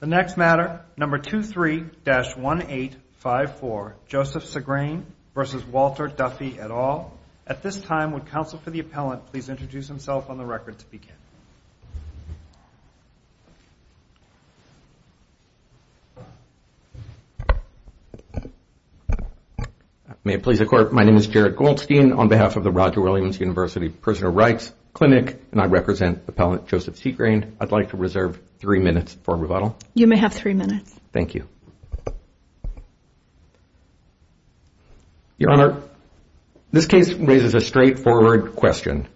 The next matter, number 23-1854, Joseph Segrane v. Walter Duffy et al. At this time, would counsel for the appellant please introduce himself on the record to begin? May it please the Court, my name is Jared Goldstein. On behalf of the Roger Williams University Prisoner Rights Clinic, and I represent Appellant Joseph Segrane, I'd like to reserve three minutes for rebuttal. You may have three minutes. Thank you. Your Honor, this case raises a straightforward question.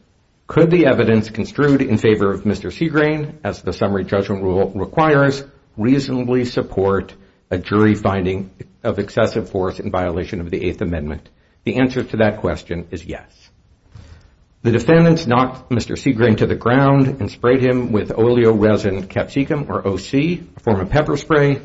Could the evidence construed in favor of Mr. Segrane, as the summary judgment rule requires, reasonably support a jury finding of excessive force in violation of the Eighth Amendment? The answer to that question is yes. The defendants knocked Mr. Segrane to the ground and sprayed him with oleoresin capsicum, or OC, a form of pepper spray,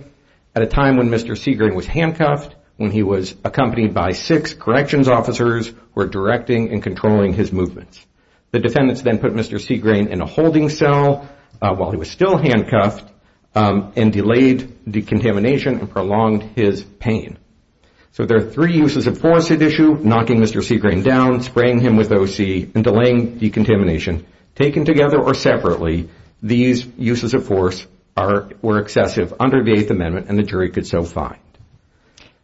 at a time when Mr. Segrane was handcuffed, when he was accompanied by six corrections officers who were directing and controlling his movements. The defendants then put Mr. Segrane in a holding cell while he was still handcuffed and delayed decontamination and prolonged his pain. So there are three uses of force at issue, knocking Mr. Segrane down, spraying him with OC, and delaying decontamination. Taken together or separately, these uses of force were excessive under the Eighth Amendment, and the jury could so find.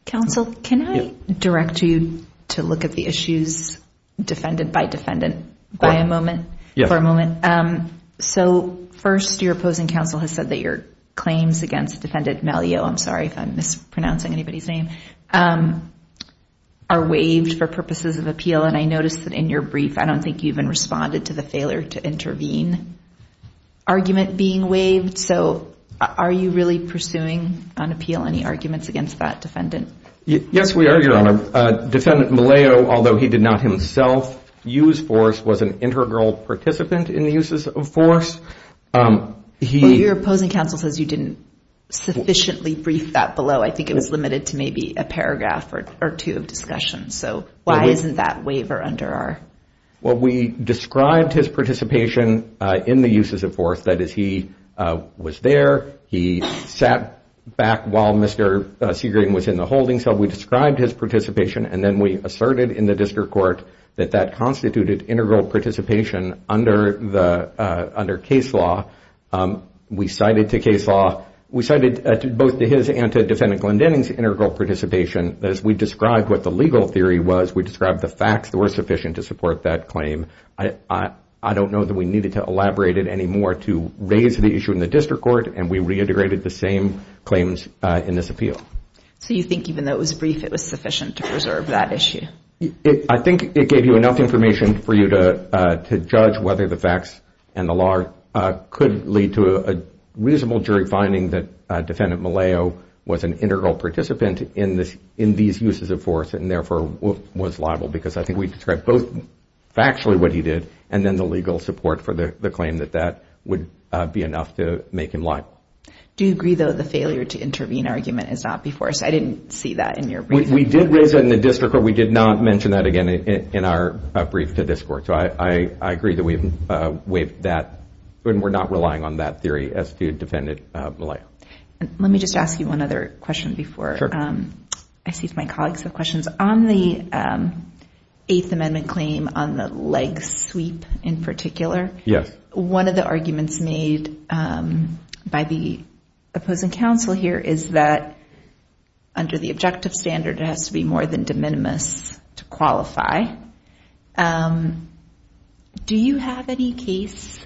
Counsel, can I direct you to look at the issues, defendant by defendant, for a moment? Yes. So first, your opposing counsel has said that your claims against Defendant Maliot, I'm sorry if I'm mispronouncing anybody's name, are waived for purposes of appeal, and I noticed that in your brief I don't think you even responded to the failure to intervene argument being waived. So are you really pursuing on appeal any arguments against that defendant? Yes, we are, Your Honor. Defendant Maliot, although he did not himself use force, was an integral participant in the uses of force. Your opposing counsel says you didn't sufficiently brief that below. I think it was limited to maybe a paragraph or two of discussion. So why isn't that waiver under our? Well, we described his participation in the uses of force, that is, he was there, he sat back while Mr. Segrane was in the holding cell. We described his participation, and then we asserted in the district court that that constituted integral participation under case law. We cited to case law, we cited both to his and to Defendant Glendening's integral participation. As we described what the legal theory was, we described the facts that were sufficient to support that claim. I don't know that we needed to elaborate it any more to raise the issue in the district court, and we reiterated the same claims in this appeal. So you think even though it was brief, it was sufficient to preserve that issue? I think it gave you enough information for you to judge whether the facts and the law could lead to a reasonable jury finding that Defendant Malayo was an integral participant in these uses of force and therefore was liable, because I think we described both factually what he did and then the legal support for the claim that that would be enough to make him liable. Do you agree, though, the failure to intervene argument is not before us? I didn't see that in your briefing. We did raise it in the district court. We did not mention that again in our brief to this court. So I agree that we've waived that and we're not relying on that theory as to Defendant Malayo. Let me just ask you one other question before I see if my colleagues have questions. On the Eighth Amendment claim on the leg sweep in particular, one of the arguments made by the opposing counsel here is that under the objective standard it has to be more than de minimis to qualify. Do you have any case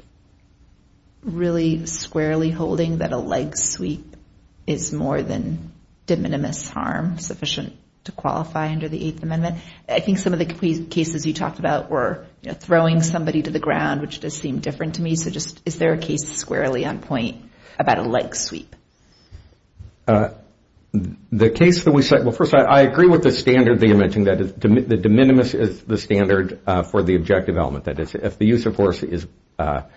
really squarely holding that a leg sweep is more than de minimis harm, sufficient to qualify under the Eighth Amendment? I think some of the cases you talked about were throwing somebody to the ground, which does seem different to me. So just is there a case squarely on point about a leg sweep? The case that we cite, well, first, I agree with the standard that you mentioned, that de minimis is the standard for the objective element. That is, if the use of force is not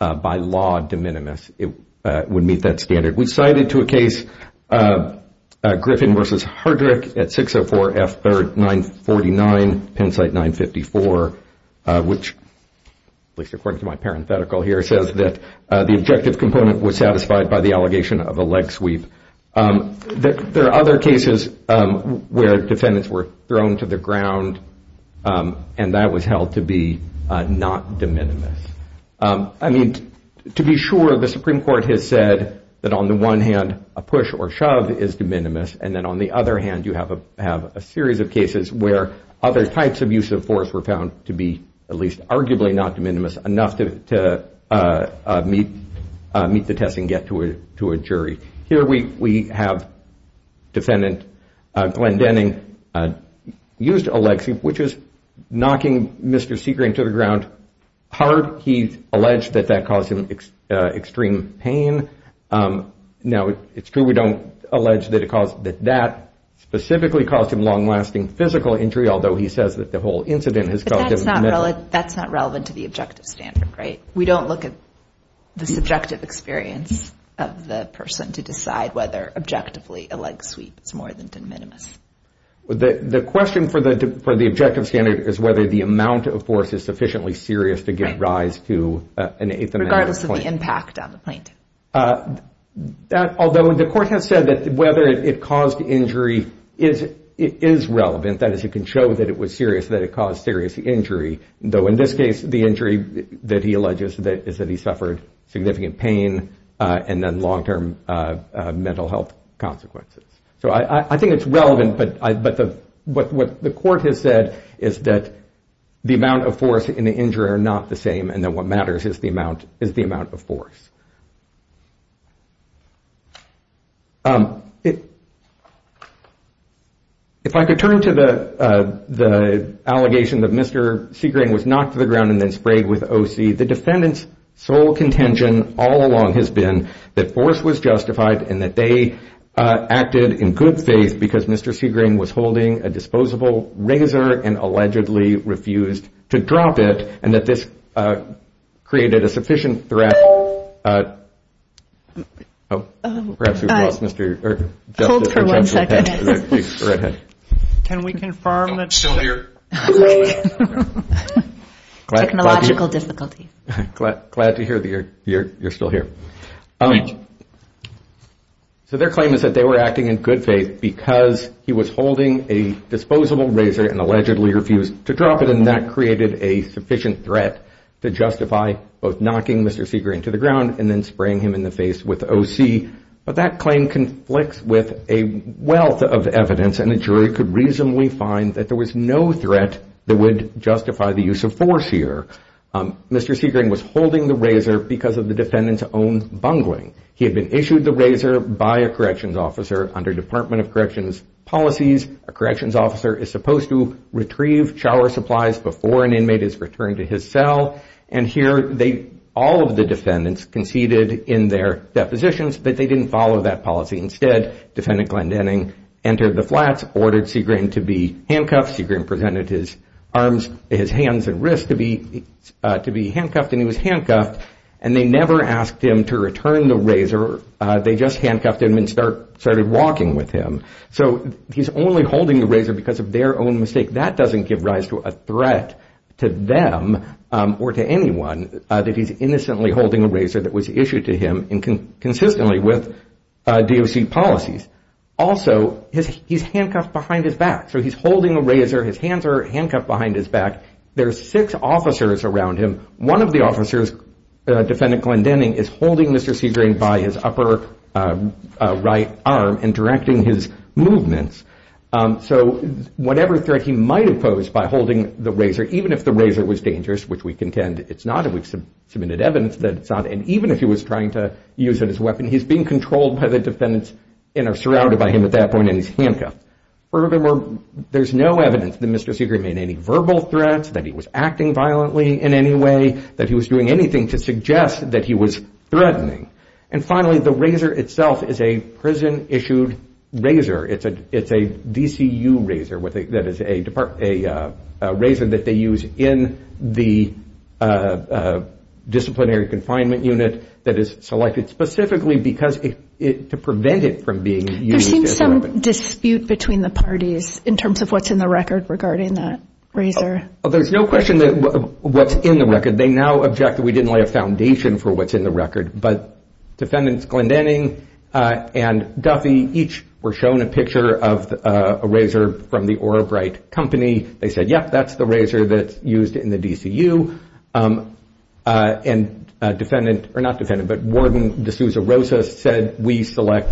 by law de minimis, it would meet that standard. We cited to a case Griffin v. Hardrick at 604 F 949, Pennsite 954, which at least according to my parenthetical here says that the objective component was satisfied by the allegation of a leg sweep. There are other cases where defendants were thrown to the ground and that was held to be not de minimis. I mean, to be sure, the Supreme Court has said that on the one hand a push or shove is de minimis, and then on the other hand you have a series of cases where other types of use of force were found to be at least arguably not de minimis, enough to meet the test and get to a jury. Here we have defendant Glenn Denning used a leg sweep, which is knocking Mr. Segrang to the ground hard. He alleged that that caused him extreme pain. Now, it's true we don't allege that that specifically caused him long-lasting physical injury, although he says that the whole incident has caused him to measure. But that's not relevant to the objective standard, right? We don't look at the subjective experience of the person to decide whether objectively a leg sweep is more than de minimis. The question for the objective standard is whether the amount of force is sufficiently serious to give rise to an eighth amendment point. Regardless of the impact on the point. Although the court has said that whether it caused injury is relevant, that is it can show that it was serious, that it caused serious injury, though in this case the injury that he alleges is that he suffered significant pain and then long-term mental health consequences. So I think it's relevant. But what the court has said is that the amount of force in the injury are not the same. And then what matters is the amount is the amount of force. If I could turn to the allegation that Mr. Segrang was knocked to the ground and then sprayed with O.C., the defendant's sole contention all along has been that force was justified and that they acted in good faith because Mr. Segrang was holding a disposable razor and allegedly refused to drop it and that this created a sufficient threat. Perhaps we've lost Mr. Justice. Hold for one second. Can we confirm that's still here? Technological difficulty. Glad to hear that you're still here. So their claim is that they were acting in good faith because he was holding a disposable razor and allegedly refused to drop it and that created a sufficient threat to justify both knocking Mr. Segrang to the ground and then spraying him in the face with O.C. But that claim conflicts with a wealth of evidence and a jury could reasonably find that there was no threat that would justify the use of force here. Mr. Segrang was holding the razor because of the defendant's own bungling. He had been issued the razor by a corrections officer under Department of Corrections policies. A corrections officer is supposed to retrieve shower supplies before an inmate is returned to his cell. And here all of the defendants conceded in their depositions, but they didn't follow that policy. Instead, Defendant Glendening entered the flats, ordered Segrang to be handcuffed. Segrang presented his hands and wrists to be handcuffed, and he was handcuffed. And they never asked him to return the razor. They just handcuffed him and started walking with him. So he's only holding the razor because of their own mistake. That doesn't give rise to a threat to them or to anyone that he's innocently holding a razor that was issued to him consistently with DOC policies. Also, he's handcuffed behind his back. So he's holding a razor, his hands are handcuffed behind his back. There are six officers around him. One of the officers, Defendant Glendening, is holding Mr. Segrang by his upper right arm and directing his movements. So whatever threat he might have posed by holding the razor, even if the razor was dangerous, which we contend it's not, and we've submitted evidence that it's not, and even if he was trying to use it as a weapon, he's being controlled by the defendants and are surrounded by him at that point in his handcuffs. Furthermore, there's no evidence that Mr. Segrang made any verbal threats, that he was acting violently in any way, that he was doing anything to suggest that he was threatening. And finally, the razor itself is a prison-issued razor. It's a DCU razor that is a razor that they use in the disciplinary confinement unit that is selected specifically to prevent it from being used as a weapon. There seems some dispute between the parties in terms of what's in the record regarding that razor. There's no question that what's in the record, they now object that we didn't lay a foundation for what's in the record, but Defendants Glendening and Duffy each were shown a picture of a razor from the Orabrite Company. They said, yep, that's the razor that's used in the DCU, and Warden D'Souza Rosa said, we select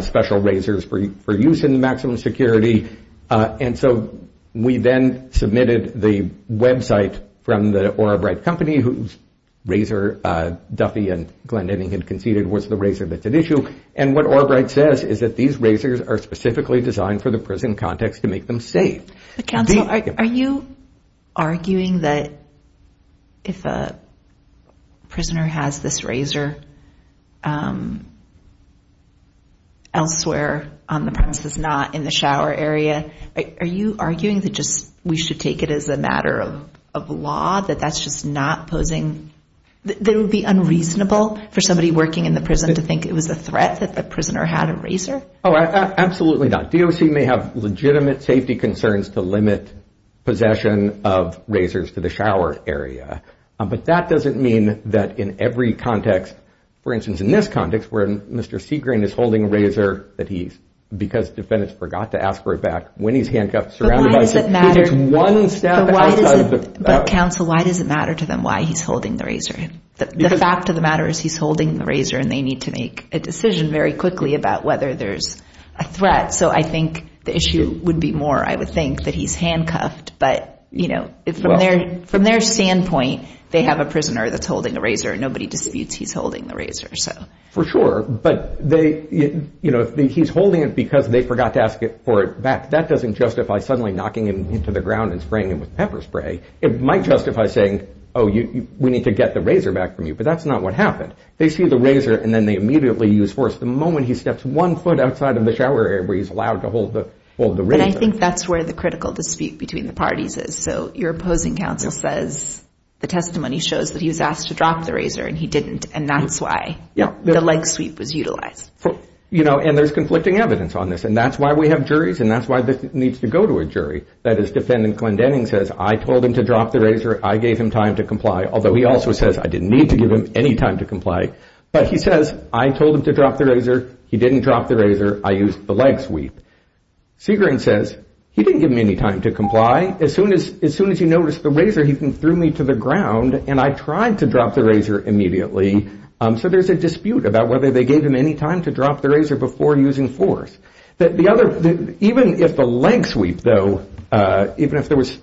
special razors for use in maximum security, and so we then submitted the website from the Orabrite Company, whose razor Duffy and Glendening had conceded was the razor that's at issue, and what Orabrite says is that these razors are specifically designed for the prison context to make them safe. But counsel, are you arguing that if a prisoner has this razor elsewhere on the premises, not in the shower area, are you arguing that just we should take it as a matter of law, that that's just not posing, that it would be unreasonable for somebody working in the prison to think it was a threat that the prisoner had a razor? Oh, absolutely not. DOC may have legitimate safety concerns to limit possession of razors to the shower area, but that doesn't mean that in every context, for instance, in this context, where Mr. Segrane is holding a razor that he's, because defendants forgot to ask for it back, when he's handcuffed, surrounded by security. But why does it matter to them why he's holding the razor? The fact of the matter is he's holding the razor, and they need to make a decision very quickly about whether there's a threat. So I think the issue would be more, I would think, that he's handcuffed, but from their standpoint, they have a prisoner that's holding a razor, and nobody disputes he's holding the razor. For sure, but he's holding it because they forgot to ask for it back. That doesn't justify suddenly knocking him into the ground and spraying him with pepper spray. It might justify saying, oh, we need to get the razor back from you, but that's not what happened. They see the razor, and then they immediately use force. The moment he steps one foot outside of the shower area where he's allowed to hold the razor. But I think that's where the critical dispute between the parties is. So your opposing counsel says the testimony shows that he was asked to drop the razor, and he didn't, and that's why the leg sweep was utilized. And there's conflicting evidence on this, and that's why we have juries, and that's why this needs to go to a jury. That is, defendant Glenn Denning says, I told him to drop the razor. I gave him time to comply, although he also says I didn't need to give him any time to comply. But he says, I told him to drop the razor. He didn't drop the razor. I used the leg sweep. Segrin says, he didn't give me any time to comply. As soon as he noticed the razor, he threw me to the ground, and I tried to drop the razor immediately. So there's a dispute about whether they gave him any time to drop the razor before using force. Even if the leg sweep, though, even if there was,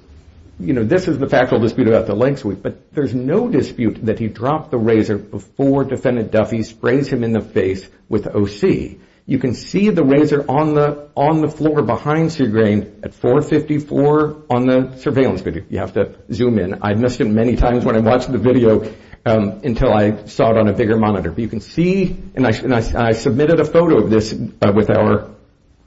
you know, this is the factual dispute about the leg sweep, but there's no dispute that he dropped the razor before defendant Duffy sprays him in the face with O.C. You can see the razor on the floor behind Segrin at 454 on the surveillance video. You have to zoom in. I missed it many times when I watched the video until I saw it on a bigger monitor. But you can see, and I submitted a photo of this with our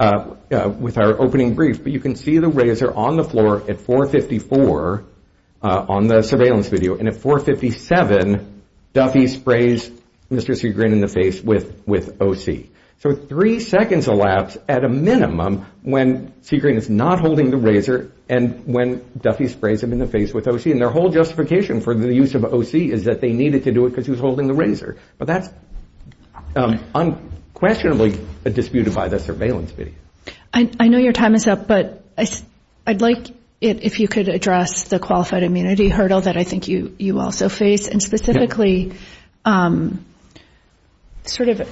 opening brief, but you can see the razor on the floor at 454 on the surveillance video, and at 457 Duffy sprays Mr. Segrin in the face with O.C. So three seconds elapsed at a minimum when Segrin is not holding the razor and when Duffy sprays him in the face with O.C., and their whole justification for the use of O.C. is that they needed to do it because he was holding the razor. But that's unquestionably a dispute by the surveillance video. I know your time is up, but I'd like it if you could address the qualified immunity hurdle that I think you also face, and specifically sort of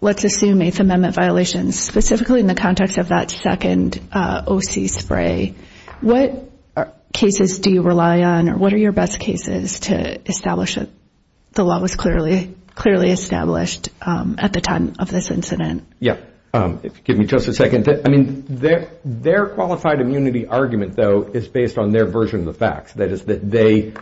let's assume Eighth Amendment violations, specifically in the context of that second O.C. spray. What cases do you rely on, or what are your best cases to establish that the law was clearly established at the time of this incident? Yeah, give me just a second. I mean, their qualified immunity argument, though, is based on their version of the facts, that is that they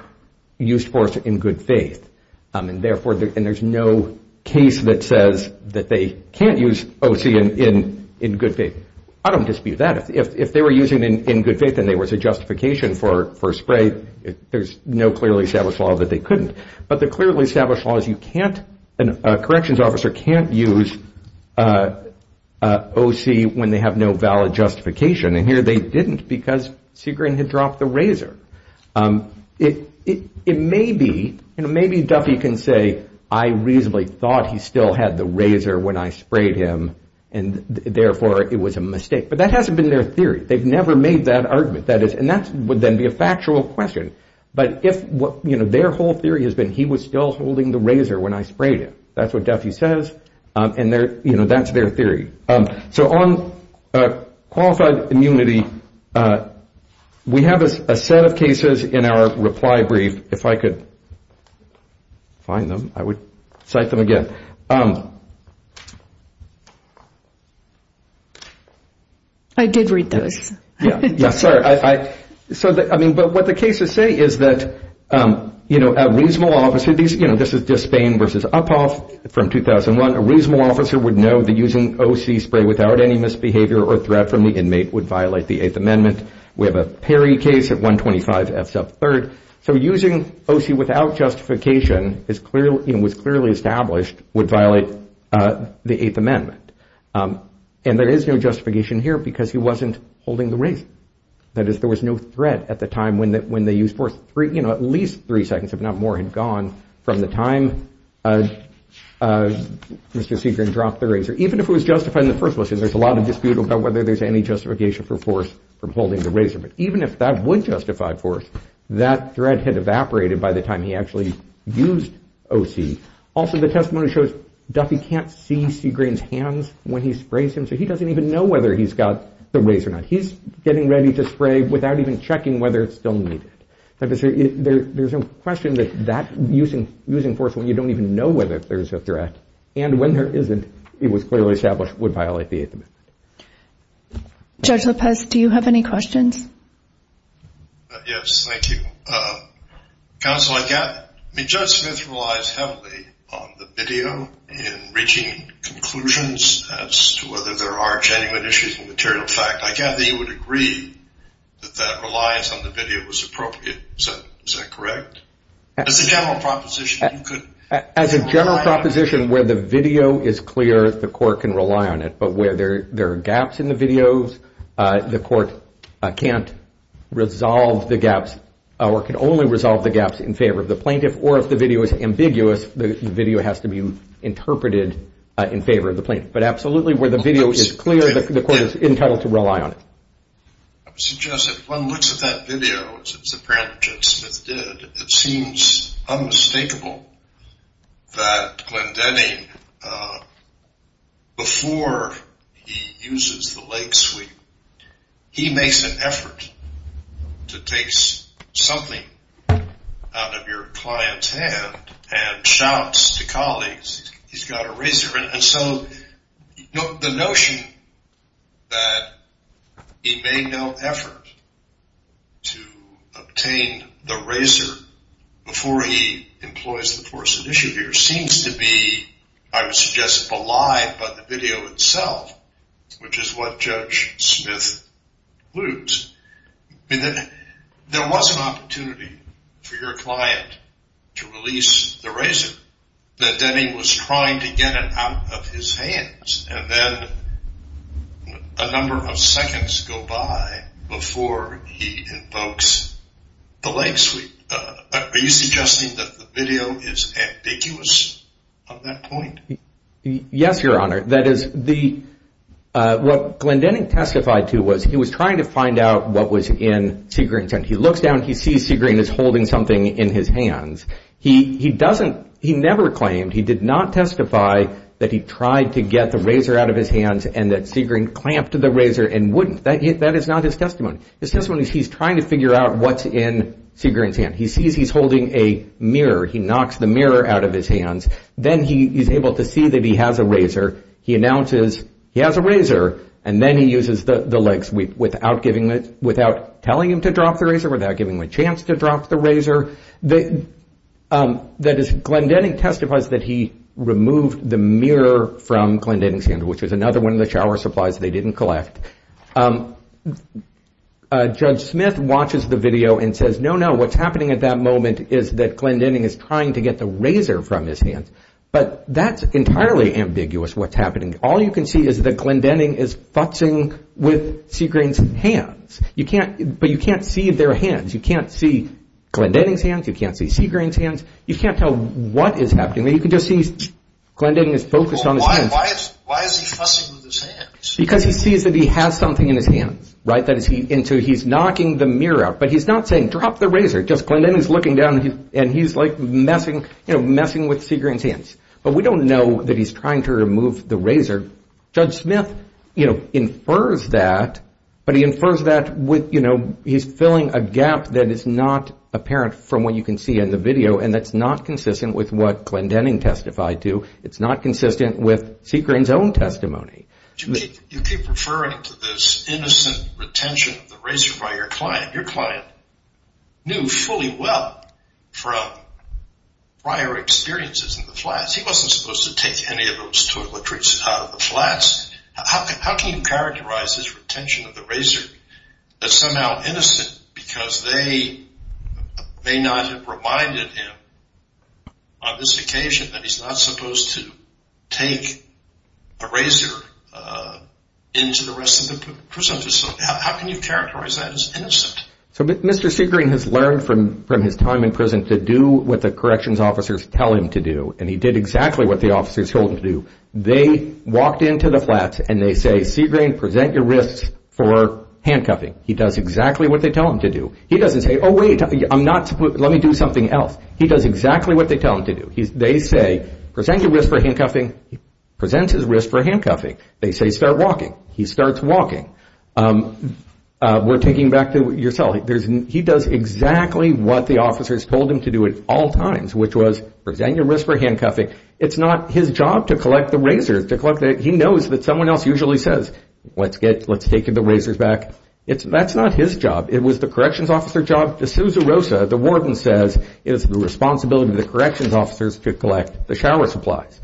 used force in good faith, and there's no case that says that they can't use O.C. in good faith. I don't dispute that. If they were using it in good faith and there was a justification for a spray, there's no clearly established law that they couldn't. But the clearly established law is you can't, a corrections officer can't use O.C. when they have no valid justification, and here they didn't because Segrin had dropped the razor. It may be, you know, maybe Duffy can say I reasonably thought he still had the razor when I sprayed him, and therefore it was a mistake, but that hasn't been their theory. They've never made that argument, and that would then be a factual question. But if their whole theory has been he was still holding the razor when I sprayed him, that's what Duffy says, and that's their theory. So on qualified immunity, we have a set of cases in our reply brief. If I could find them, I would cite them again. I did read those. Yeah, sorry. So, I mean, but what the cases say is that, you know, a reasonable officer, you know, Again, this is Despain v. Uphoff from 2001. A reasonable officer would know that using O.C. spray without any misbehavior or threat from the inmate would violate the Eighth Amendment. We have a Perry case at 125 F. Sub 3rd. So using O.C. without justification is clearly, you know, was clearly established would violate the Eighth Amendment. And there is no justification here because he wasn't holding the razor. That is, there was no threat at the time when they used force. You know, at least three seconds, if not more, had gone from the time Mr. Segrin dropped the razor. Even if it was justified in the first place, there's a lot of dispute about whether there's any justification for force for holding the razor. But even if that would justify force, that threat had evaporated by the time he actually used O.C. Also, the testimony shows Duffy can't see Segrin's hands when he sprays him, so he doesn't even know whether he's got the razor or not. He's getting ready to spray without even checking whether it's still needed. There's no question that using force when you don't even know whether there's a threat and when there isn't, it was clearly established would violate the Eighth Amendment. Judge Lopez, do you have any questions? Yes, thank you. Counsel, I mean, Judge Smith relies heavily on the video in reaching conclusions as to whether there are genuine issues in material fact. I gather you would agree that that reliance on the video was appropriate. Is that correct? As a general proposition, you could rely on it. As a general proposition, where the video is clear, the court can rely on it. But where there are gaps in the videos, the court can't resolve the gaps or can only resolve the gaps in favor of the plaintiff. Or if the video is ambiguous, the video has to be interpreted in favor of the plaintiff. But absolutely, where the video is clear, the court is entitled to rely on it. I would suggest if one looks at that video, as apparently Judge Smith did, it seems unmistakable that Glendenny, before he uses the leg sweep, he makes an effort to take something out of your client's hand and shouts to colleagues, he's got a razor. And so the notion that he made no effort to obtain the razor before he employs the force of issue here seems to be, I would suggest, belied by the video itself, which is what Judge Smith alludes. There was an opportunity for your client to release the razor, but then he was trying to get it out of his hands. And then a number of seconds go by before he invokes the leg sweep. Are you suggesting that the video is ambiguous on that point? Yes, Your Honor. That is, what Glendenny testified to was he was trying to find out what was in Segrin's hand. He looks down, he sees Segrin is holding something in his hands. He never claimed, he did not testify that he tried to get the razor out of his hands and that Segrin clamped the razor and wouldn't. That is not his testimony. His testimony is he's trying to figure out what's in Segrin's hand. He sees he's holding a mirror. He knocks the mirror out of his hands. Then he is able to see that he has a razor. He announces he has a razor, and then he uses the leg sweep without telling him to drop the razor, without giving him a chance to drop the razor. That is, Glendenny testifies that he removed the mirror from Glendenny's hand, which is another one of the shower supplies they didn't collect. Judge Smith watches the video and says, no, no, what's happening at that moment is that Glendenny is trying to get the razor from his hands. But that's entirely ambiguous what's happening. All you can see is that Glendenny is fussing with Segrin's hands. But you can't see their hands. You can't see Glendenny's hands. You can't see Segrin's hands. You can't tell what is happening. You can just see Glendenny is focused on his hands. Why is he fussing with his hands? Because he sees that he has something in his hands, right? And so he's knocking the mirror out. But he's not saying drop the razor. Just Glendenny is looking down, and he's like messing with Segrin's hands. But we don't know that he's trying to remove the razor. Judge Smith, you know, infers that, but he infers that with, you know, he's filling a gap that is not apparent from what you can see in the video, and that's not consistent with what Glendenny testified to. It's not consistent with Segrin's own testimony. You keep referring to this innocent retention of the razor by your client. Your client knew fully well from prior experiences in the flats. He wasn't supposed to take any of those toiletries out of the flats. How can you characterize his retention of the razor as somehow innocent because they may not have reminded him on this occasion that he's not supposed to take a razor into the rest of the prison facility? How can you characterize that as innocent? So Mr. Segrin has learned from his time in prison to do what the corrections officers tell him to do, and he did exactly what the officers told him to do. They walked into the flats and they say, Segrin, present your wrists for handcuffing. He does exactly what they tell him to do. He doesn't say, oh, wait, I'm not supposed to, let me do something else. He does exactly what they tell him to do. They say, present your wrists for handcuffing. He presents his wrists for handcuffing. They say, start walking. He starts walking. We're taking back to your cell. He does exactly what the officers told him to do at all times, which was present your wrists for handcuffing. It's not his job to collect the razors. He knows that someone else usually says, let's take the razors back. That's not his job. It was the corrections officer's job. The susurrosa, the warden says, is the responsibility of the corrections officers to collect the shower supplies.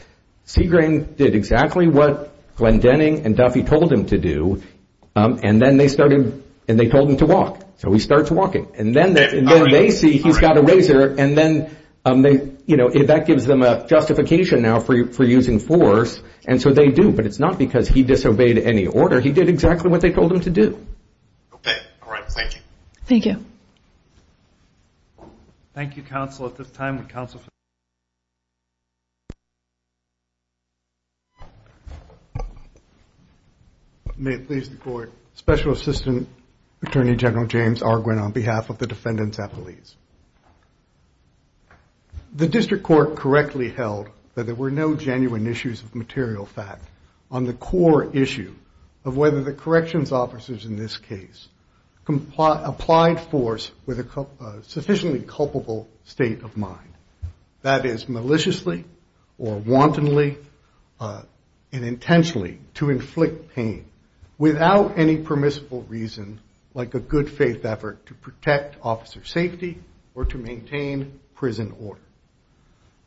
Segrin did exactly what Glenn Denning and Duffy told him to do, and they told him to walk. So he starts walking. And then they see he's got a razor, and then, you know, that gives them a justification now for using force, and so they do. But it's not because he disobeyed any order. He did exactly what they told him to do. Okay. All right. Thank you. Thank you. Thank you, counsel. At this time, the counsel. May it please the court. Special Assistant Attorney General James R. Gwinn on behalf of the defendants at police. The district court correctly held that there were no genuine issues of material fact on the core issue of whether the corrections officers in this case applied force with a sufficiently culpable state of mind, that is, maliciously or wantonly and intentionally to inflict pain without any permissible reason, like a good faith effort to protect officer safety or to maintain prison order.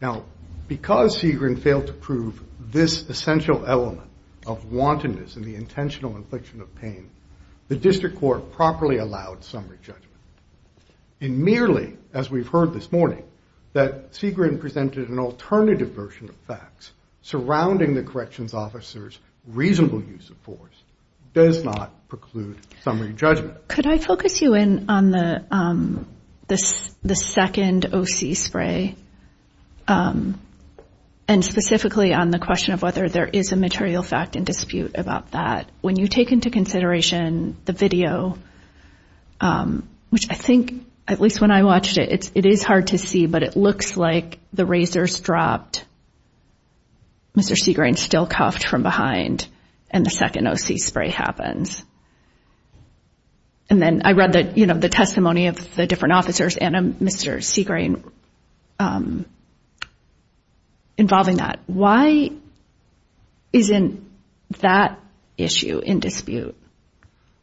Now, because Segrin failed to prove this essential element of wantonness and the intentional infliction of pain, the district court properly allowed summary judgment. And merely, as we've heard this morning, that Segrin presented an alternative version of facts surrounding the corrections officers' reasonable use of force does not preclude summary judgment. Could I focus you in on the second OC spray and specifically on the question of whether there is a material fact in dispute about that? When you take into consideration the video, which I think, at least when I watched it, it is hard to see, but it looks like the razor's dropped. Mr. Segrin's still cuffed from behind and the second OC spray happens. And then I read the testimony of the different officers and Mr. Segrin involving that. Why isn't that issue in dispute,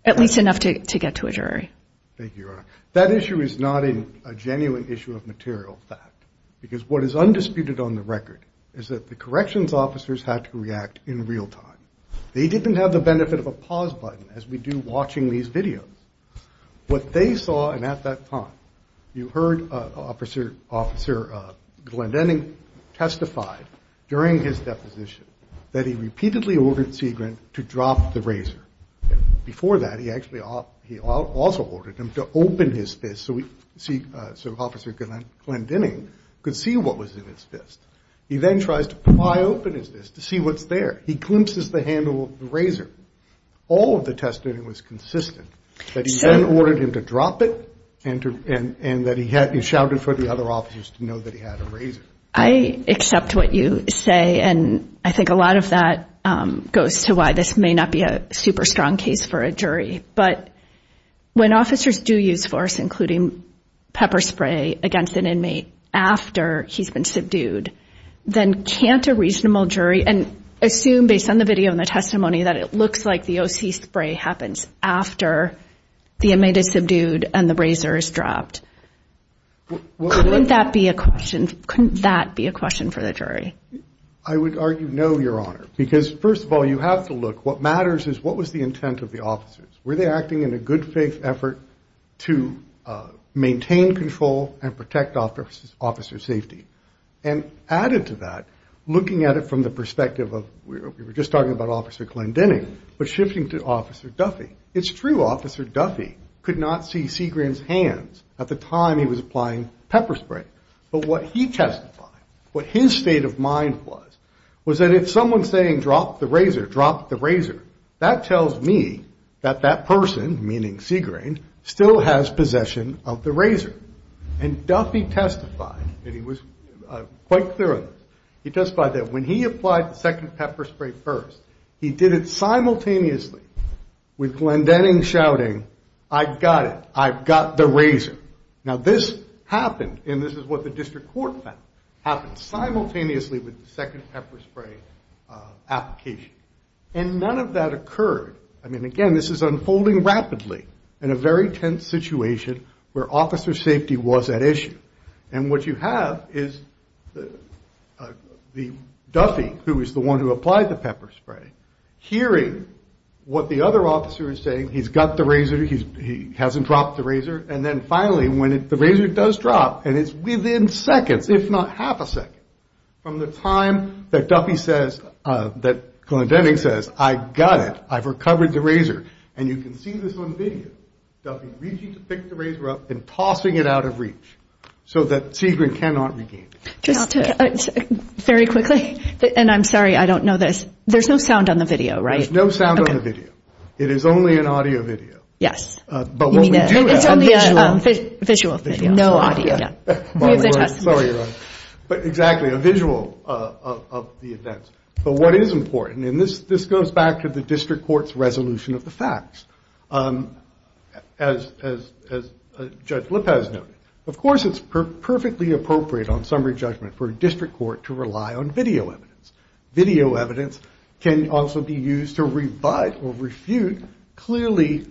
at least enough to get to a jury? Thank you, Your Honor. That issue is not a genuine issue of material fact, because what is undisputed on the record is that the corrections officers had to react in real time. They didn't have the benefit of a pause button, as we do watching these videos. What they saw, and at that time, you heard Officer Glendening testify during his deposition that he repeatedly ordered Segrin to drop the razor. Before that, he also ordered him to open his fist so Officer Glendening could see what was in his fist. He then tries to pry open his fist to see what's there. He climpses the handle of the razor. All of the testimony was consistent that he then ordered him to drop it and that he shouted for the other officers to know that he had a razor. I accept what you say, and I think a lot of that goes to why this may not be a super strong case for a jury. But when officers do use force, including pepper spray against an inmate after he's been subdued, then can't a reasonable jury assume, based on the video and the testimony, that it looks like the O.C. spray happens after the inmate is subdued and the razor is dropped? Couldn't that be a question? Couldn't that be a question for the jury? I would argue no, Your Honor, because, first of all, you have to look. What matters is what was the intent of the officers. Were they acting in a good faith effort to maintain control and protect officer safety? And added to that, looking at it from the perspective of, we were just talking about Officer Glendening, but shifting to Officer Duffy, it's true Officer Duffy could not see Segrane's hands at the time he was applying pepper spray. But what he testified, what his state of mind was, was that if someone's saying drop the razor, drop the razor, that tells me that that person, meaning Segrane, still has possession of the razor. And Duffy testified, and he was quite clear on this, he testified that when he applied the second pepper spray first, he did it simultaneously with Glendening shouting, I've got it, I've got the razor. Now this happened, and this is what the district court found, happened simultaneously with the second pepper spray application. And none of that occurred. I mean, again, this is unfolding rapidly in a very tense situation where officer safety was at issue. And what you have is Duffy, who was the one who applied the pepper spray, hearing what the other officer is saying, he's got the razor, he hasn't dropped the razor, and then finally when the razor does drop, and it's within seconds, if not half a second, from the time that Duffy says, that Glendening says, I've got it, I've recovered the razor. And you can see this on video. Duffy reaching to pick the razor up and tossing it out of reach so that Segrane cannot regain it. Just to, very quickly, and I'm sorry, I don't know this, there's no sound on the video, right? There's no sound on the video. It is only an audio video. Yes. But what we do have is a visual video. No audio, yeah. We have the testimony. But exactly, a visual of the events. But what is important, and this goes back to the district court's resolution of the facts, as Judge Lopez noted, of course it's perfectly appropriate on summary judgment for a district court to rely on video evidence. Video evidence can also be used to rebut or refute clearly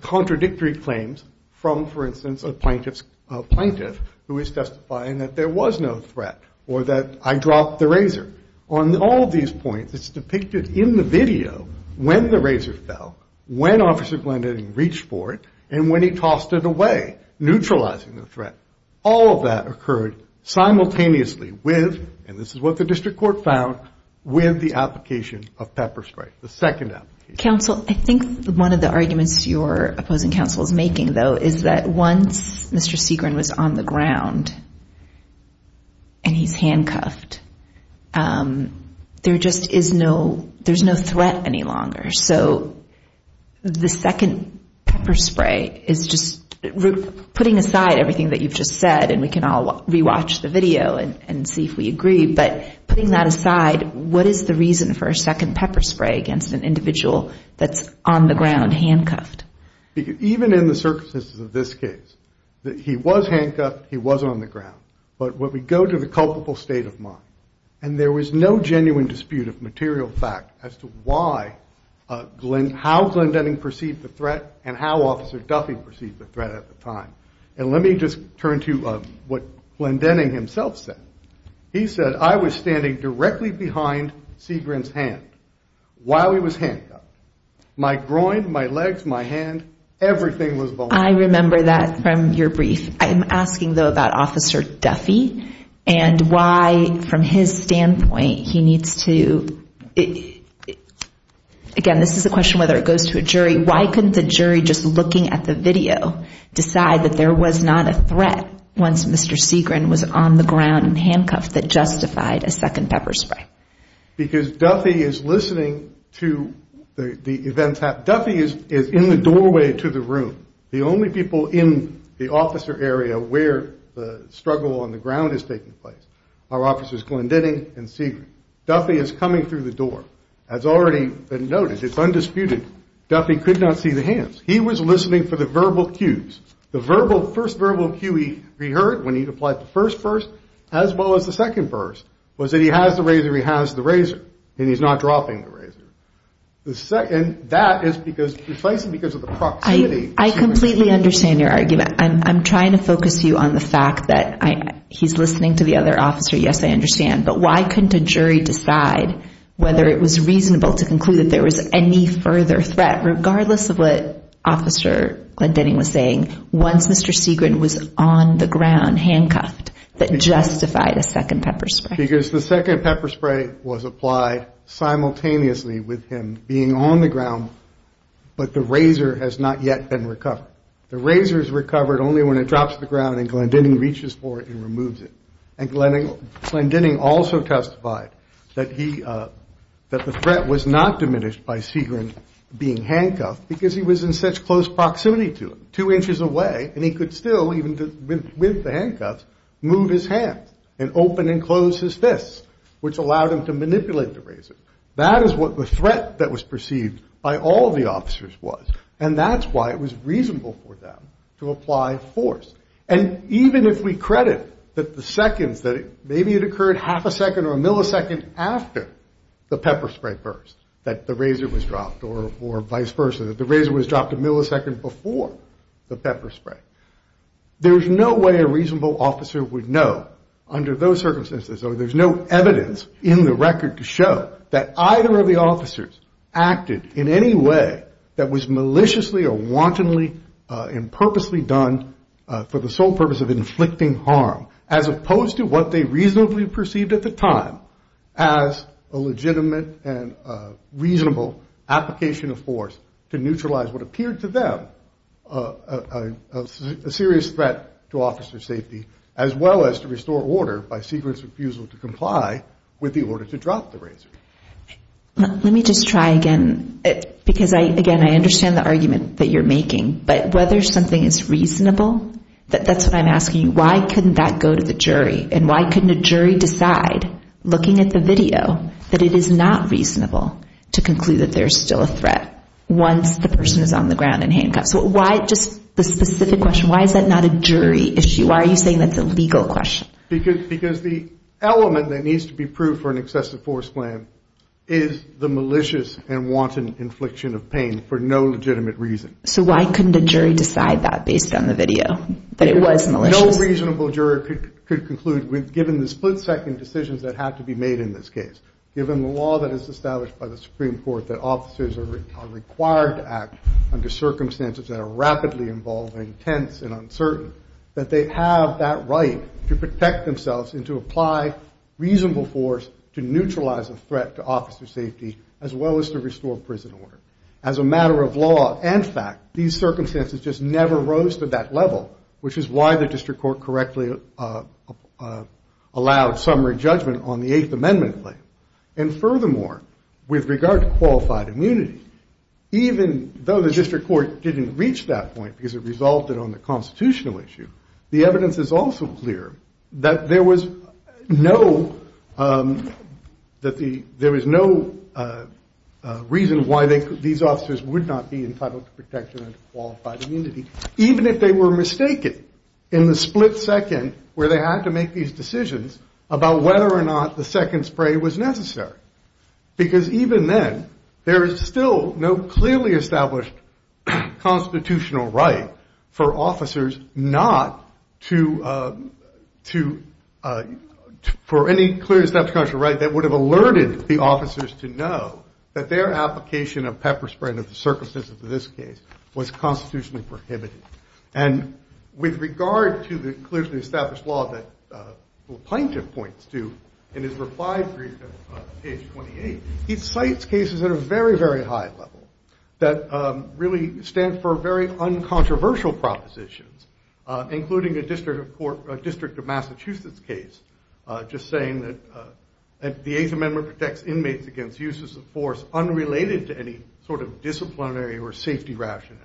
contradictory claims from, for instance, a plaintiff who is testifying that there was no threat or that I dropped the razor. On all of these points, it's depicted in the video when the razor fell, when Officer Glendening reached for it, and when he tossed it away, neutralizing the threat. All of that occurred simultaneously with, and this is what the district court found, with the application of pepper spray, the second application. Counsel, I think one of the arguments your opposing counsel is making, though, is that once Mr. Segrin was on the ground and he's handcuffed, there just is no, there's no threat any longer. So the second pepper spray is just, putting aside everything that you've just said, and we can all rewatch the video and see if we agree, but putting that aside, what is the reason for a second pepper spray against an individual that's on the ground handcuffed? Even in the circumstances of this case, he was handcuffed, he was on the ground. But when we go to the culpable state of mind, and there was no genuine dispute of material fact as to why, how Glendening perceived the threat and how Officer Duffy perceived the threat at the time. And let me just turn to what Glendening himself said. He said, I was standing directly behind Segrin's hand while he was handcuffed. My groin, my legs, my hand, everything was behind me. I remember that from your brief. I'm asking, though, about Officer Duffy and why, from his standpoint, he needs to, again, this is a question whether it goes to a jury, why couldn't the jury, just looking at the video, decide that there was not a threat once Mr. Segrin was on the ground and handcuffed that justified a second pepper spray? Because Duffy is listening to the events. Duffy is in the doorway to the room. The only people in the officer area where the struggle on the ground is taking place are Officers Glendening and Segrin. Duffy is coming through the door, has already been noticed, it's undisputed. Duffy could not see the hands. He was listening for the verbal cues. The first verbal cue he heard when he applied the first verse, as well as the second verse, was that he has the razor, he has the razor, and he's not dropping the razor. And that is because, replacing because of the proximity. I completely understand your argument. I'm trying to focus you on the fact that he's listening to the other officer. Yes, I understand. But why couldn't a jury decide whether it was reasonable to conclude that there was any further threat, regardless of what Officer Glendening was saying, once Mr. Segrin was on the ground, that justified a second pepper spray? Because the second pepper spray was applied simultaneously with him being on the ground, but the razor has not yet been recovered. The razor is recovered only when it drops to the ground and Glendening reaches for it and removes it. And Glendening also testified that the threat was not diminished by Segrin being handcuffed, because he was in such close proximity to him, two inches away, and he could still, even with the handcuffs, move his hands and open and close his fists, which allowed him to manipulate the razor. That is what the threat that was perceived by all the officers was. And that's why it was reasonable for them to apply force. And even if we credit that the seconds, that maybe it occurred half a second or a millisecond after the pepper spray burst, that the razor was dropped, or vice versa, that the razor was dropped a millisecond before the pepper spray, there's no way a reasonable officer would know under those circumstances, or there's no evidence in the record to show that either of the officers acted in any way that was maliciously or wantonly and purposely done for the sole purpose of inflicting harm, as opposed to what they reasonably perceived at the time as a legitimate and reasonable application of force to neutralize what appeared to them a serious threat to officer safety, as well as to restore order by Segrin's refusal to comply with the order to drop the razor. Let me just try again, because, again, I understand the argument that you're making. But whether something is reasonable, that's what I'm asking you. Why couldn't that go to the jury? And why couldn't a jury decide, looking at the video, that it is not reasonable to conclude that there's still a threat once the person is on the ground and handcuffed? So why just the specific question, why is that not a jury issue? Why are you saying that's a legal question? Because the element that needs to be proved for an excessive force plan is the malicious and wanton infliction of pain for no legitimate reason. So why couldn't a jury decide that based on the video, that it was malicious? No reasonable jury could conclude, given the split-second decisions that have to be made in this case, given the law that is established by the Supreme Court that officers are required to act under circumstances that are rapidly involving tense and uncertain, that they have that right to protect themselves and to apply reasonable force to neutralize a threat to officer safety, as well as to restore prison order. As a matter of law and fact, these circumstances just never rose to that level, which is why the district court correctly allowed summary judgment on the Eighth Amendment claim. And furthermore, with regard to qualified immunity, even though the district court didn't reach that point because it resulted on the constitutional issue, the evidence is also clear that there was no reason why these officers would not be entitled to protection under qualified immunity, even if they were mistaken in the split-second where they had to make these decisions about whether or not the second spray was necessary. Because even then, there is still no clearly established constitutional right for officers not to, for any clearly established constitutional right that would have alerted the officers to know that their application of pepper spray under the circumstances of this case was constitutionally prohibited. And with regard to the clearly established law that the plaintiff points to in his reply brief on page 28, he cites cases at a very, very high level that really stand for very uncontroversial propositions, including a District of Massachusetts case just saying that the Eighth Amendment protects inmates against uses of force unrelated to any sort of disciplinary or safety rationale.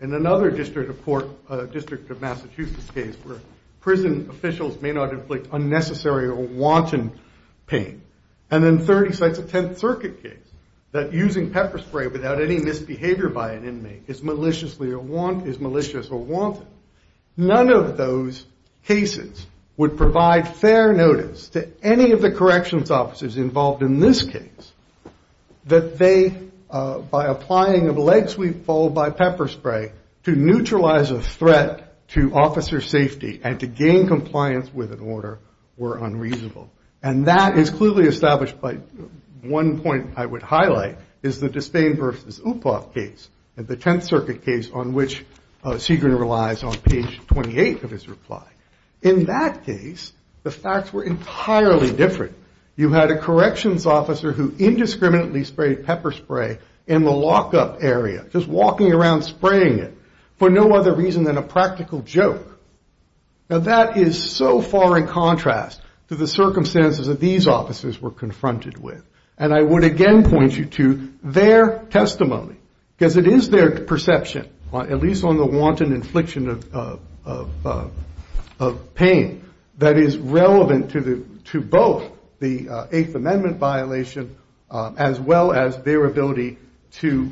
And another District of Massachusetts case where prison officials may not inflict unnecessary or wanton pain. And then third, he cites a Tenth Circuit case that using pepper spray without any misbehavior by an inmate is malicious or wanton. None of those cases would provide fair notice to any of the corrections officers involved in this case that they, by applying a leg sweep followed by pepper spray, to neutralize a threat to officer safety and to gain compliance with an order, were unreasonable. And that is clearly established by one point I would highlight is the Despain v. Upoff case and the Tenth Circuit case on which Segrin relies on page 28 of his reply. In that case, the facts were entirely different. You had a corrections officer who indiscriminately sprayed pepper spray in the lockup area, just walking around spraying it for no other reason than a practical joke. Now that is so far in contrast to the circumstances that these officers were confronted with. And I would again point you to their testimony, because it is their perception, at least on the wanton infliction of pain, that is relevant to both the Eighth Amendment violation as well as their ability to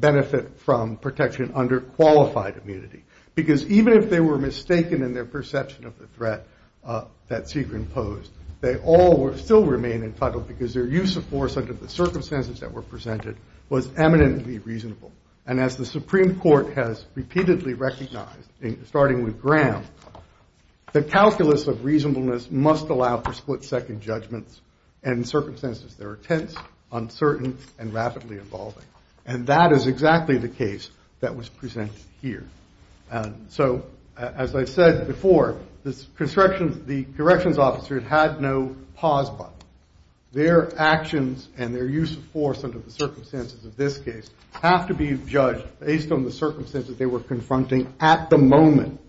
benefit from protection under qualified immunity. Because even if they were mistaken in their perception of the threat that Segrin posed, they all still remain entitled because their use of force under the circumstances that were presented was eminently reasonable. And as the Supreme Court has repeatedly recognized, starting with Graham, the calculus of reasonableness must allow for split-second judgments in circumstances that are tense, uncertain, and rapidly evolving. And that is exactly the case that was presented here. So as I said before, the corrections officer had no pause button. Their actions and their use of force under the circumstances of this case have to be judged based on the circumstances they were confronting at the moment.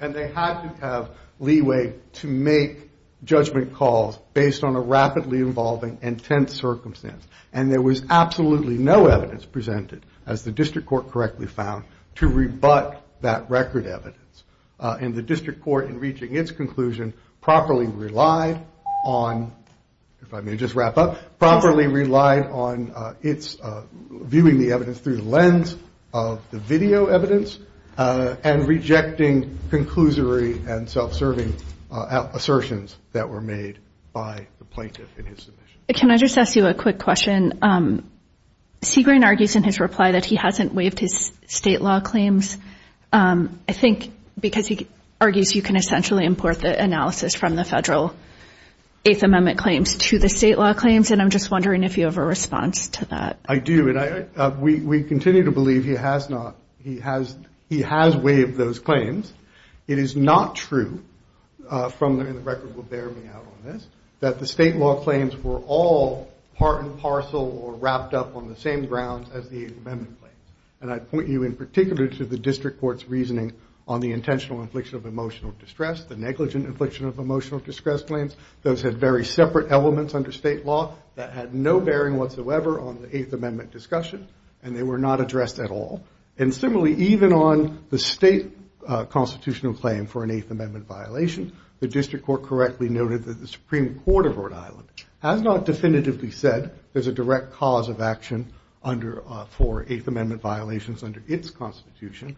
And they had to have leeway to make judgment calls based on a rapidly evolving, intense circumstance. And there was absolutely no evidence presented, as the district court correctly found, to rebut that record evidence. And the district court, in reaching its conclusion, properly relied on, if I may just wrap up, properly relied on viewing the evidence through the lens of the video evidence and rejecting conclusory and self-serving assertions that were made by the plaintiff in his submission. Can I just ask you a quick question? Segrane argues in his reply that he hasn't waived his state law claims. I think because he argues you can essentially import the analysis from the federal Eighth Amendment claims to the state law claims, and I'm just wondering if you have a response to that. I do, and we continue to believe he has not. He has waived those claims. It is not true, and the record will bear me out on this, that the state law claims were all part and parcel or wrapped up on the same grounds as the Eighth Amendment claims. And I point you in particular to the district court's reasoning on the intentional infliction of emotional distress, the negligent infliction of emotional distress claims. Those had very separate elements under state law that had no bearing whatsoever on the Eighth Amendment discussion, and they were not addressed at all. And similarly, even on the state constitutional claim for an Eighth Amendment violation, the district court correctly noted that the Supreme Court of Rhode Island has not definitively said there's a direct cause of action for Eighth Amendment violations under its constitution,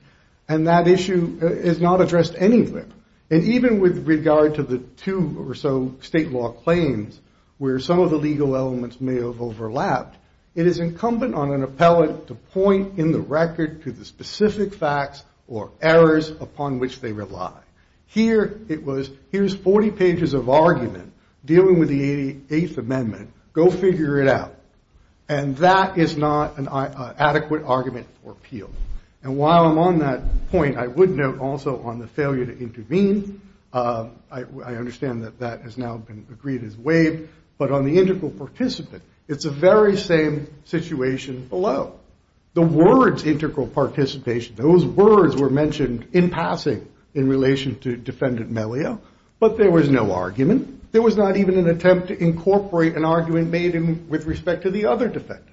and that issue is not addressed anywhere. And even with regard to the two or so state law claims where some of the legal elements may have overlapped, it is incumbent on an appellant to point in the record to the specific facts or errors upon which they rely. Here it was, here's 40 pages of argument dealing with the Eighth Amendment. Go figure it out. And that is not an adequate argument for appeal. And while I'm on that point, I would note also on the failure to intervene. I understand that that has now been agreed as waived. But on the integral participant, it's the very same situation below. The words integral participation, those words were mentioned in passing in relation to Defendant Melio, but there was no argument. There was not even an attempt to incorporate an argument made with respect to the other defendants.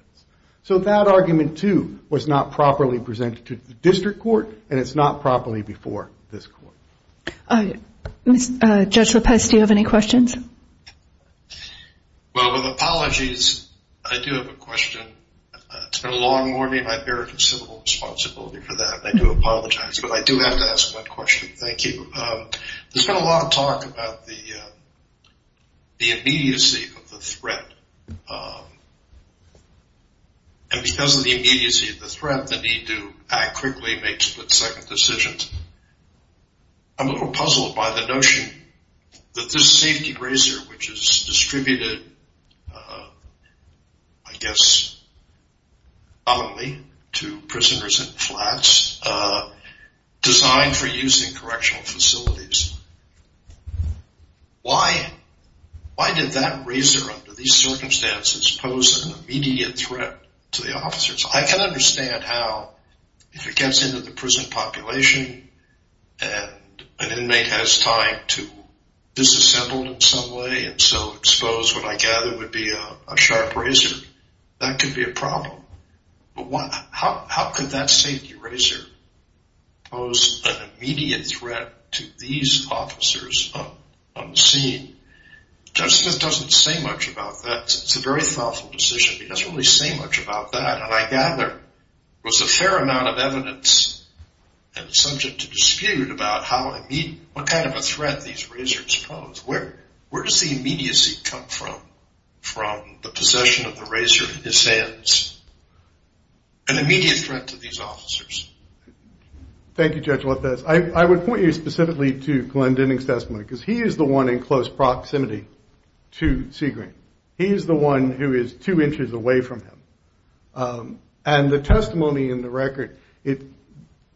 So that argument, too, was not properly presented to the district court, and it's not properly before this court. Judge Lopez, do you have any questions? Well, with apologies, I do have a question. It's been a long morning. I bear considerable responsibility for that, and I do apologize. But I do have to ask one question. Thank you. There's been a lot of talk about the immediacy of the threat. And because of the immediacy of the threat, the need to act quickly, make split-second decisions. I'm a little puzzled by the notion that this safety razor, which is distributed, I guess, commonly to prisoners in flats, designed for use in correctional facilities. Why did that razor, under these circumstances, pose an immediate threat to the officers? I can understand how, if it gets into the prison population and an inmate has time to disassemble in some way and so expose what I gather would be a sharp razor, that could be a problem. But how could that safety razor pose an immediate threat to these officers on the scene? Judge Smith doesn't say much about that. It's a very thoughtful decision. He doesn't really say much about that, and I gather there was a fair amount of evidence that was subject to dispute about what kind of a threat these razors posed. Where does the immediacy come from, from the possession of the razor in his hands? An immediate threat to these officers. Thank you, Judge Lopez. I would point you specifically to Glenn Denning's testimony, because he is the one in close proximity to Seagram. He is the one who is two inches away from him. And the testimony in the record, it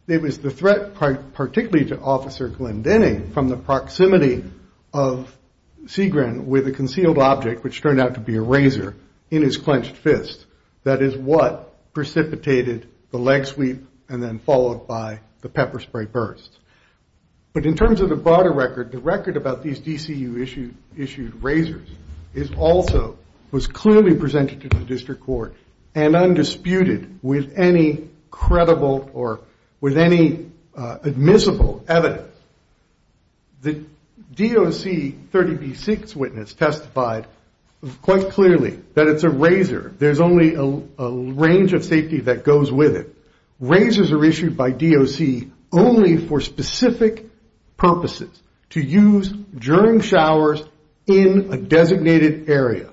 was the threat particularly to Officer Glenn Denning from the proximity of Seagram with a concealed object, which turned out to be a razor, in his clenched fist. That is what precipitated the leg sweep and then followed by the pepper spray burst. But in terms of the broader record, the record about these DCU-issued razors also was clearly presented to the district court and undisputed with any credible or with any admissible evidence. The DOC 30B-6 witness testified quite clearly that it's a razor. There's only a range of safety that goes with it. Razors are issued by DOC only for specific purposes, to use during showers in a designated area.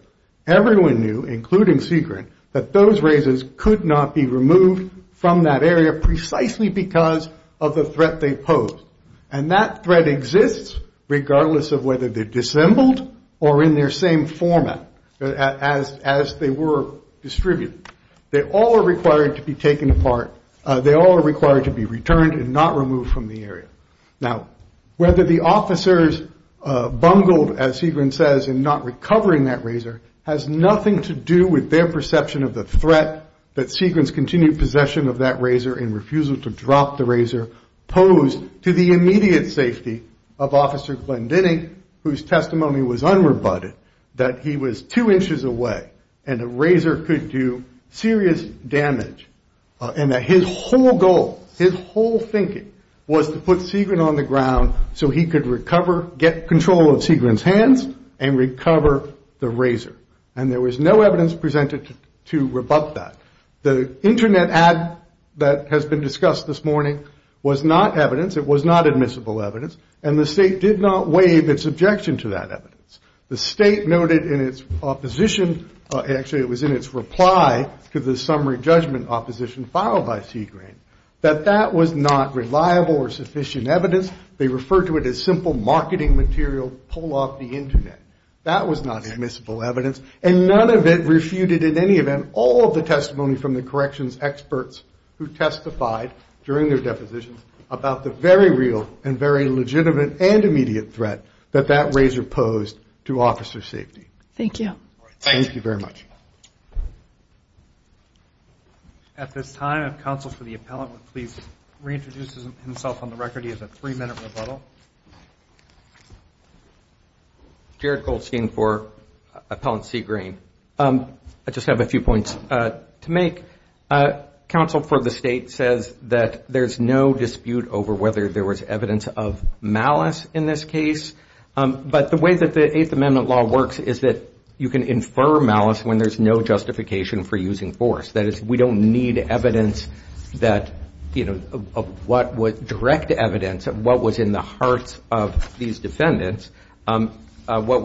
Everyone knew, including Seagram, that those razors could not be removed from that area precisely because of the threat they posed. And that threat exists regardless of whether they're dissembled or in their same format as they were distributed. They all are required to be taken apart. They all are required to be returned and not removed from the area. Now, whether the officers bungled, as Seagram says, in not recovering that razor has nothing to do with their perception of the threat that Seagram's continued possession of that razor and refusal to drop the razor posed to the immediate safety of Officer Glendening, whose testimony was unrebutted, that he was two inches away and a razor could do serious damage. And that his whole goal, his whole thinking, was to put Seagram on the ground so he could recover, get control of Seagram's hands and recover the razor. And there was no evidence presented to rebut that. The Internet ad that has been discussed this morning was not evidence. It was not admissible evidence. And the state did not waive its objection to that evidence. The state noted in its opposition, actually it was in its reply to the summary judgment opposition filed by Seagram, that that was not reliable or sufficient evidence. They referred to it as simple marketing material, pull off the Internet. That was not admissible evidence. And none of it refuted in any event all of the testimony from the corrections experts who testified during their depositions about the very real and very legitimate and immediate threat that that razor posed to officer safety. Thank you. Thank you very much. At this time, if counsel for the appellant would please reintroduce himself on the record. He has a three-minute rebuttal. Jared Goldstein for Appellant Seagreen. I just have a few points to make. Counsel for the state says that there's no dispute over whether there was evidence of malice in this case. But the way that the Eighth Amendment law works is that you can infer malice when there's no justification for using force. That is, we don't need evidence that, you know, of what would direct evidence of what was in the hearts of these defendants. What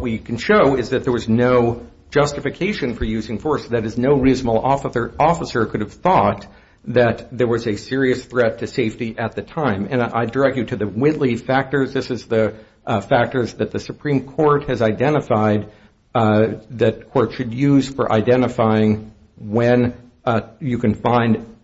we can show is that there was no justification for using force. That is, no reasonable officer could have thought that there was a serious threat to safety at the time. And I direct you to the Whitley factors. This is the factors that the Supreme Court has identified that courts should use for identifying when you can find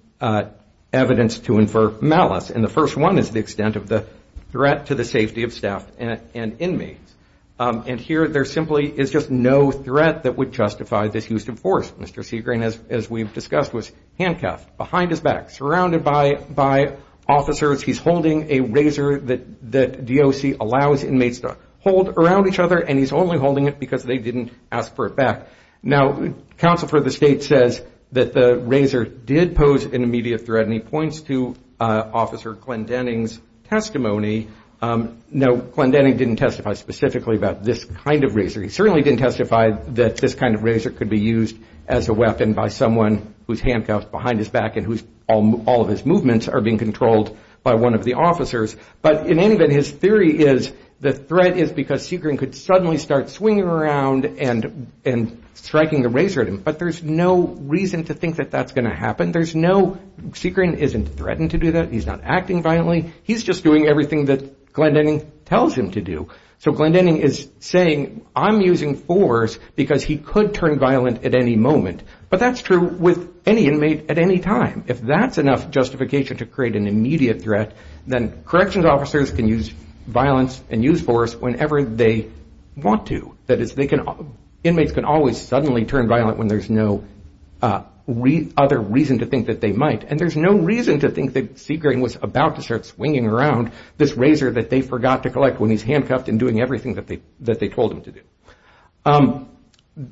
evidence to infer malice. And the first one is the extent of the threat to the safety of staff and inmates. And here there simply is just no threat that would justify this use of force. Mr. Seagreen, as we've discussed, was handcuffed behind his back, surrounded by officers. He's holding a razor that DOC allows inmates to hold around each other, and he's only holding it because they didn't ask for it back. Now, counsel for the state says that the razor did pose an immediate threat, and he points to Officer Glenn Denning's testimony. No, Glenn Denning didn't testify specifically about this kind of razor. He certainly didn't testify that this kind of razor could be used as a weapon by someone who's handcuffed behind his back and whose all of his movements are being controlled by one of the officers. But in any event, his theory is the threat is because Seagreen could suddenly start swinging around and striking the razor at him. But there's no reason to think that that's going to happen. There's no – Seagreen isn't threatened to do that. He's not acting violently. He's just doing everything that Glenn Denning tells him to do. So Glenn Denning is saying, I'm using force because he could turn violent at any moment. But that's true with any inmate at any time. If that's enough justification to create an immediate threat, then corrections officers can use violence and use force whenever they want to. That is, they can – inmates can always suddenly turn violent when there's no other reason to think that they might. And there's no reason to think that Seagreen was about to start swinging around this razor that they forgot to collect when he's handcuffed and doing everything that they told him to do.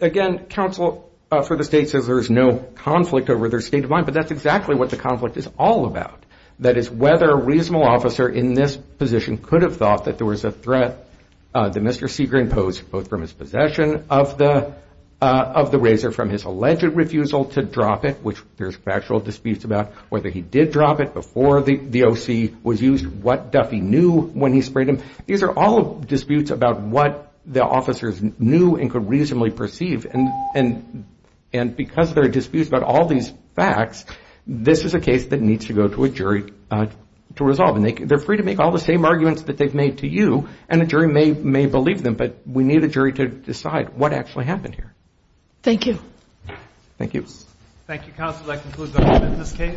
Again, counsel for the state says there's no conflict over their state of mind. But that's exactly what the conflict is all about. That is, whether a reasonable officer in this position could have thought that there was a threat that Mr. Seagreen posed, both from his possession of the razor, from his alleged refusal to drop it, which there's factual disputes about, whether he did drop it before the O.C. was used, what Duffy knew when he sprayed him. These are all disputes about what the officers knew and could reasonably perceive. And because there are disputes about all these facts, this is a case that needs to go to a jury to resolve. And they're free to make all the same arguments that they've made to you, and a jury may believe them. But we need a jury to decide what actually happened here. Thank you. Thank you. Thank you, counsel. That concludes our witness case.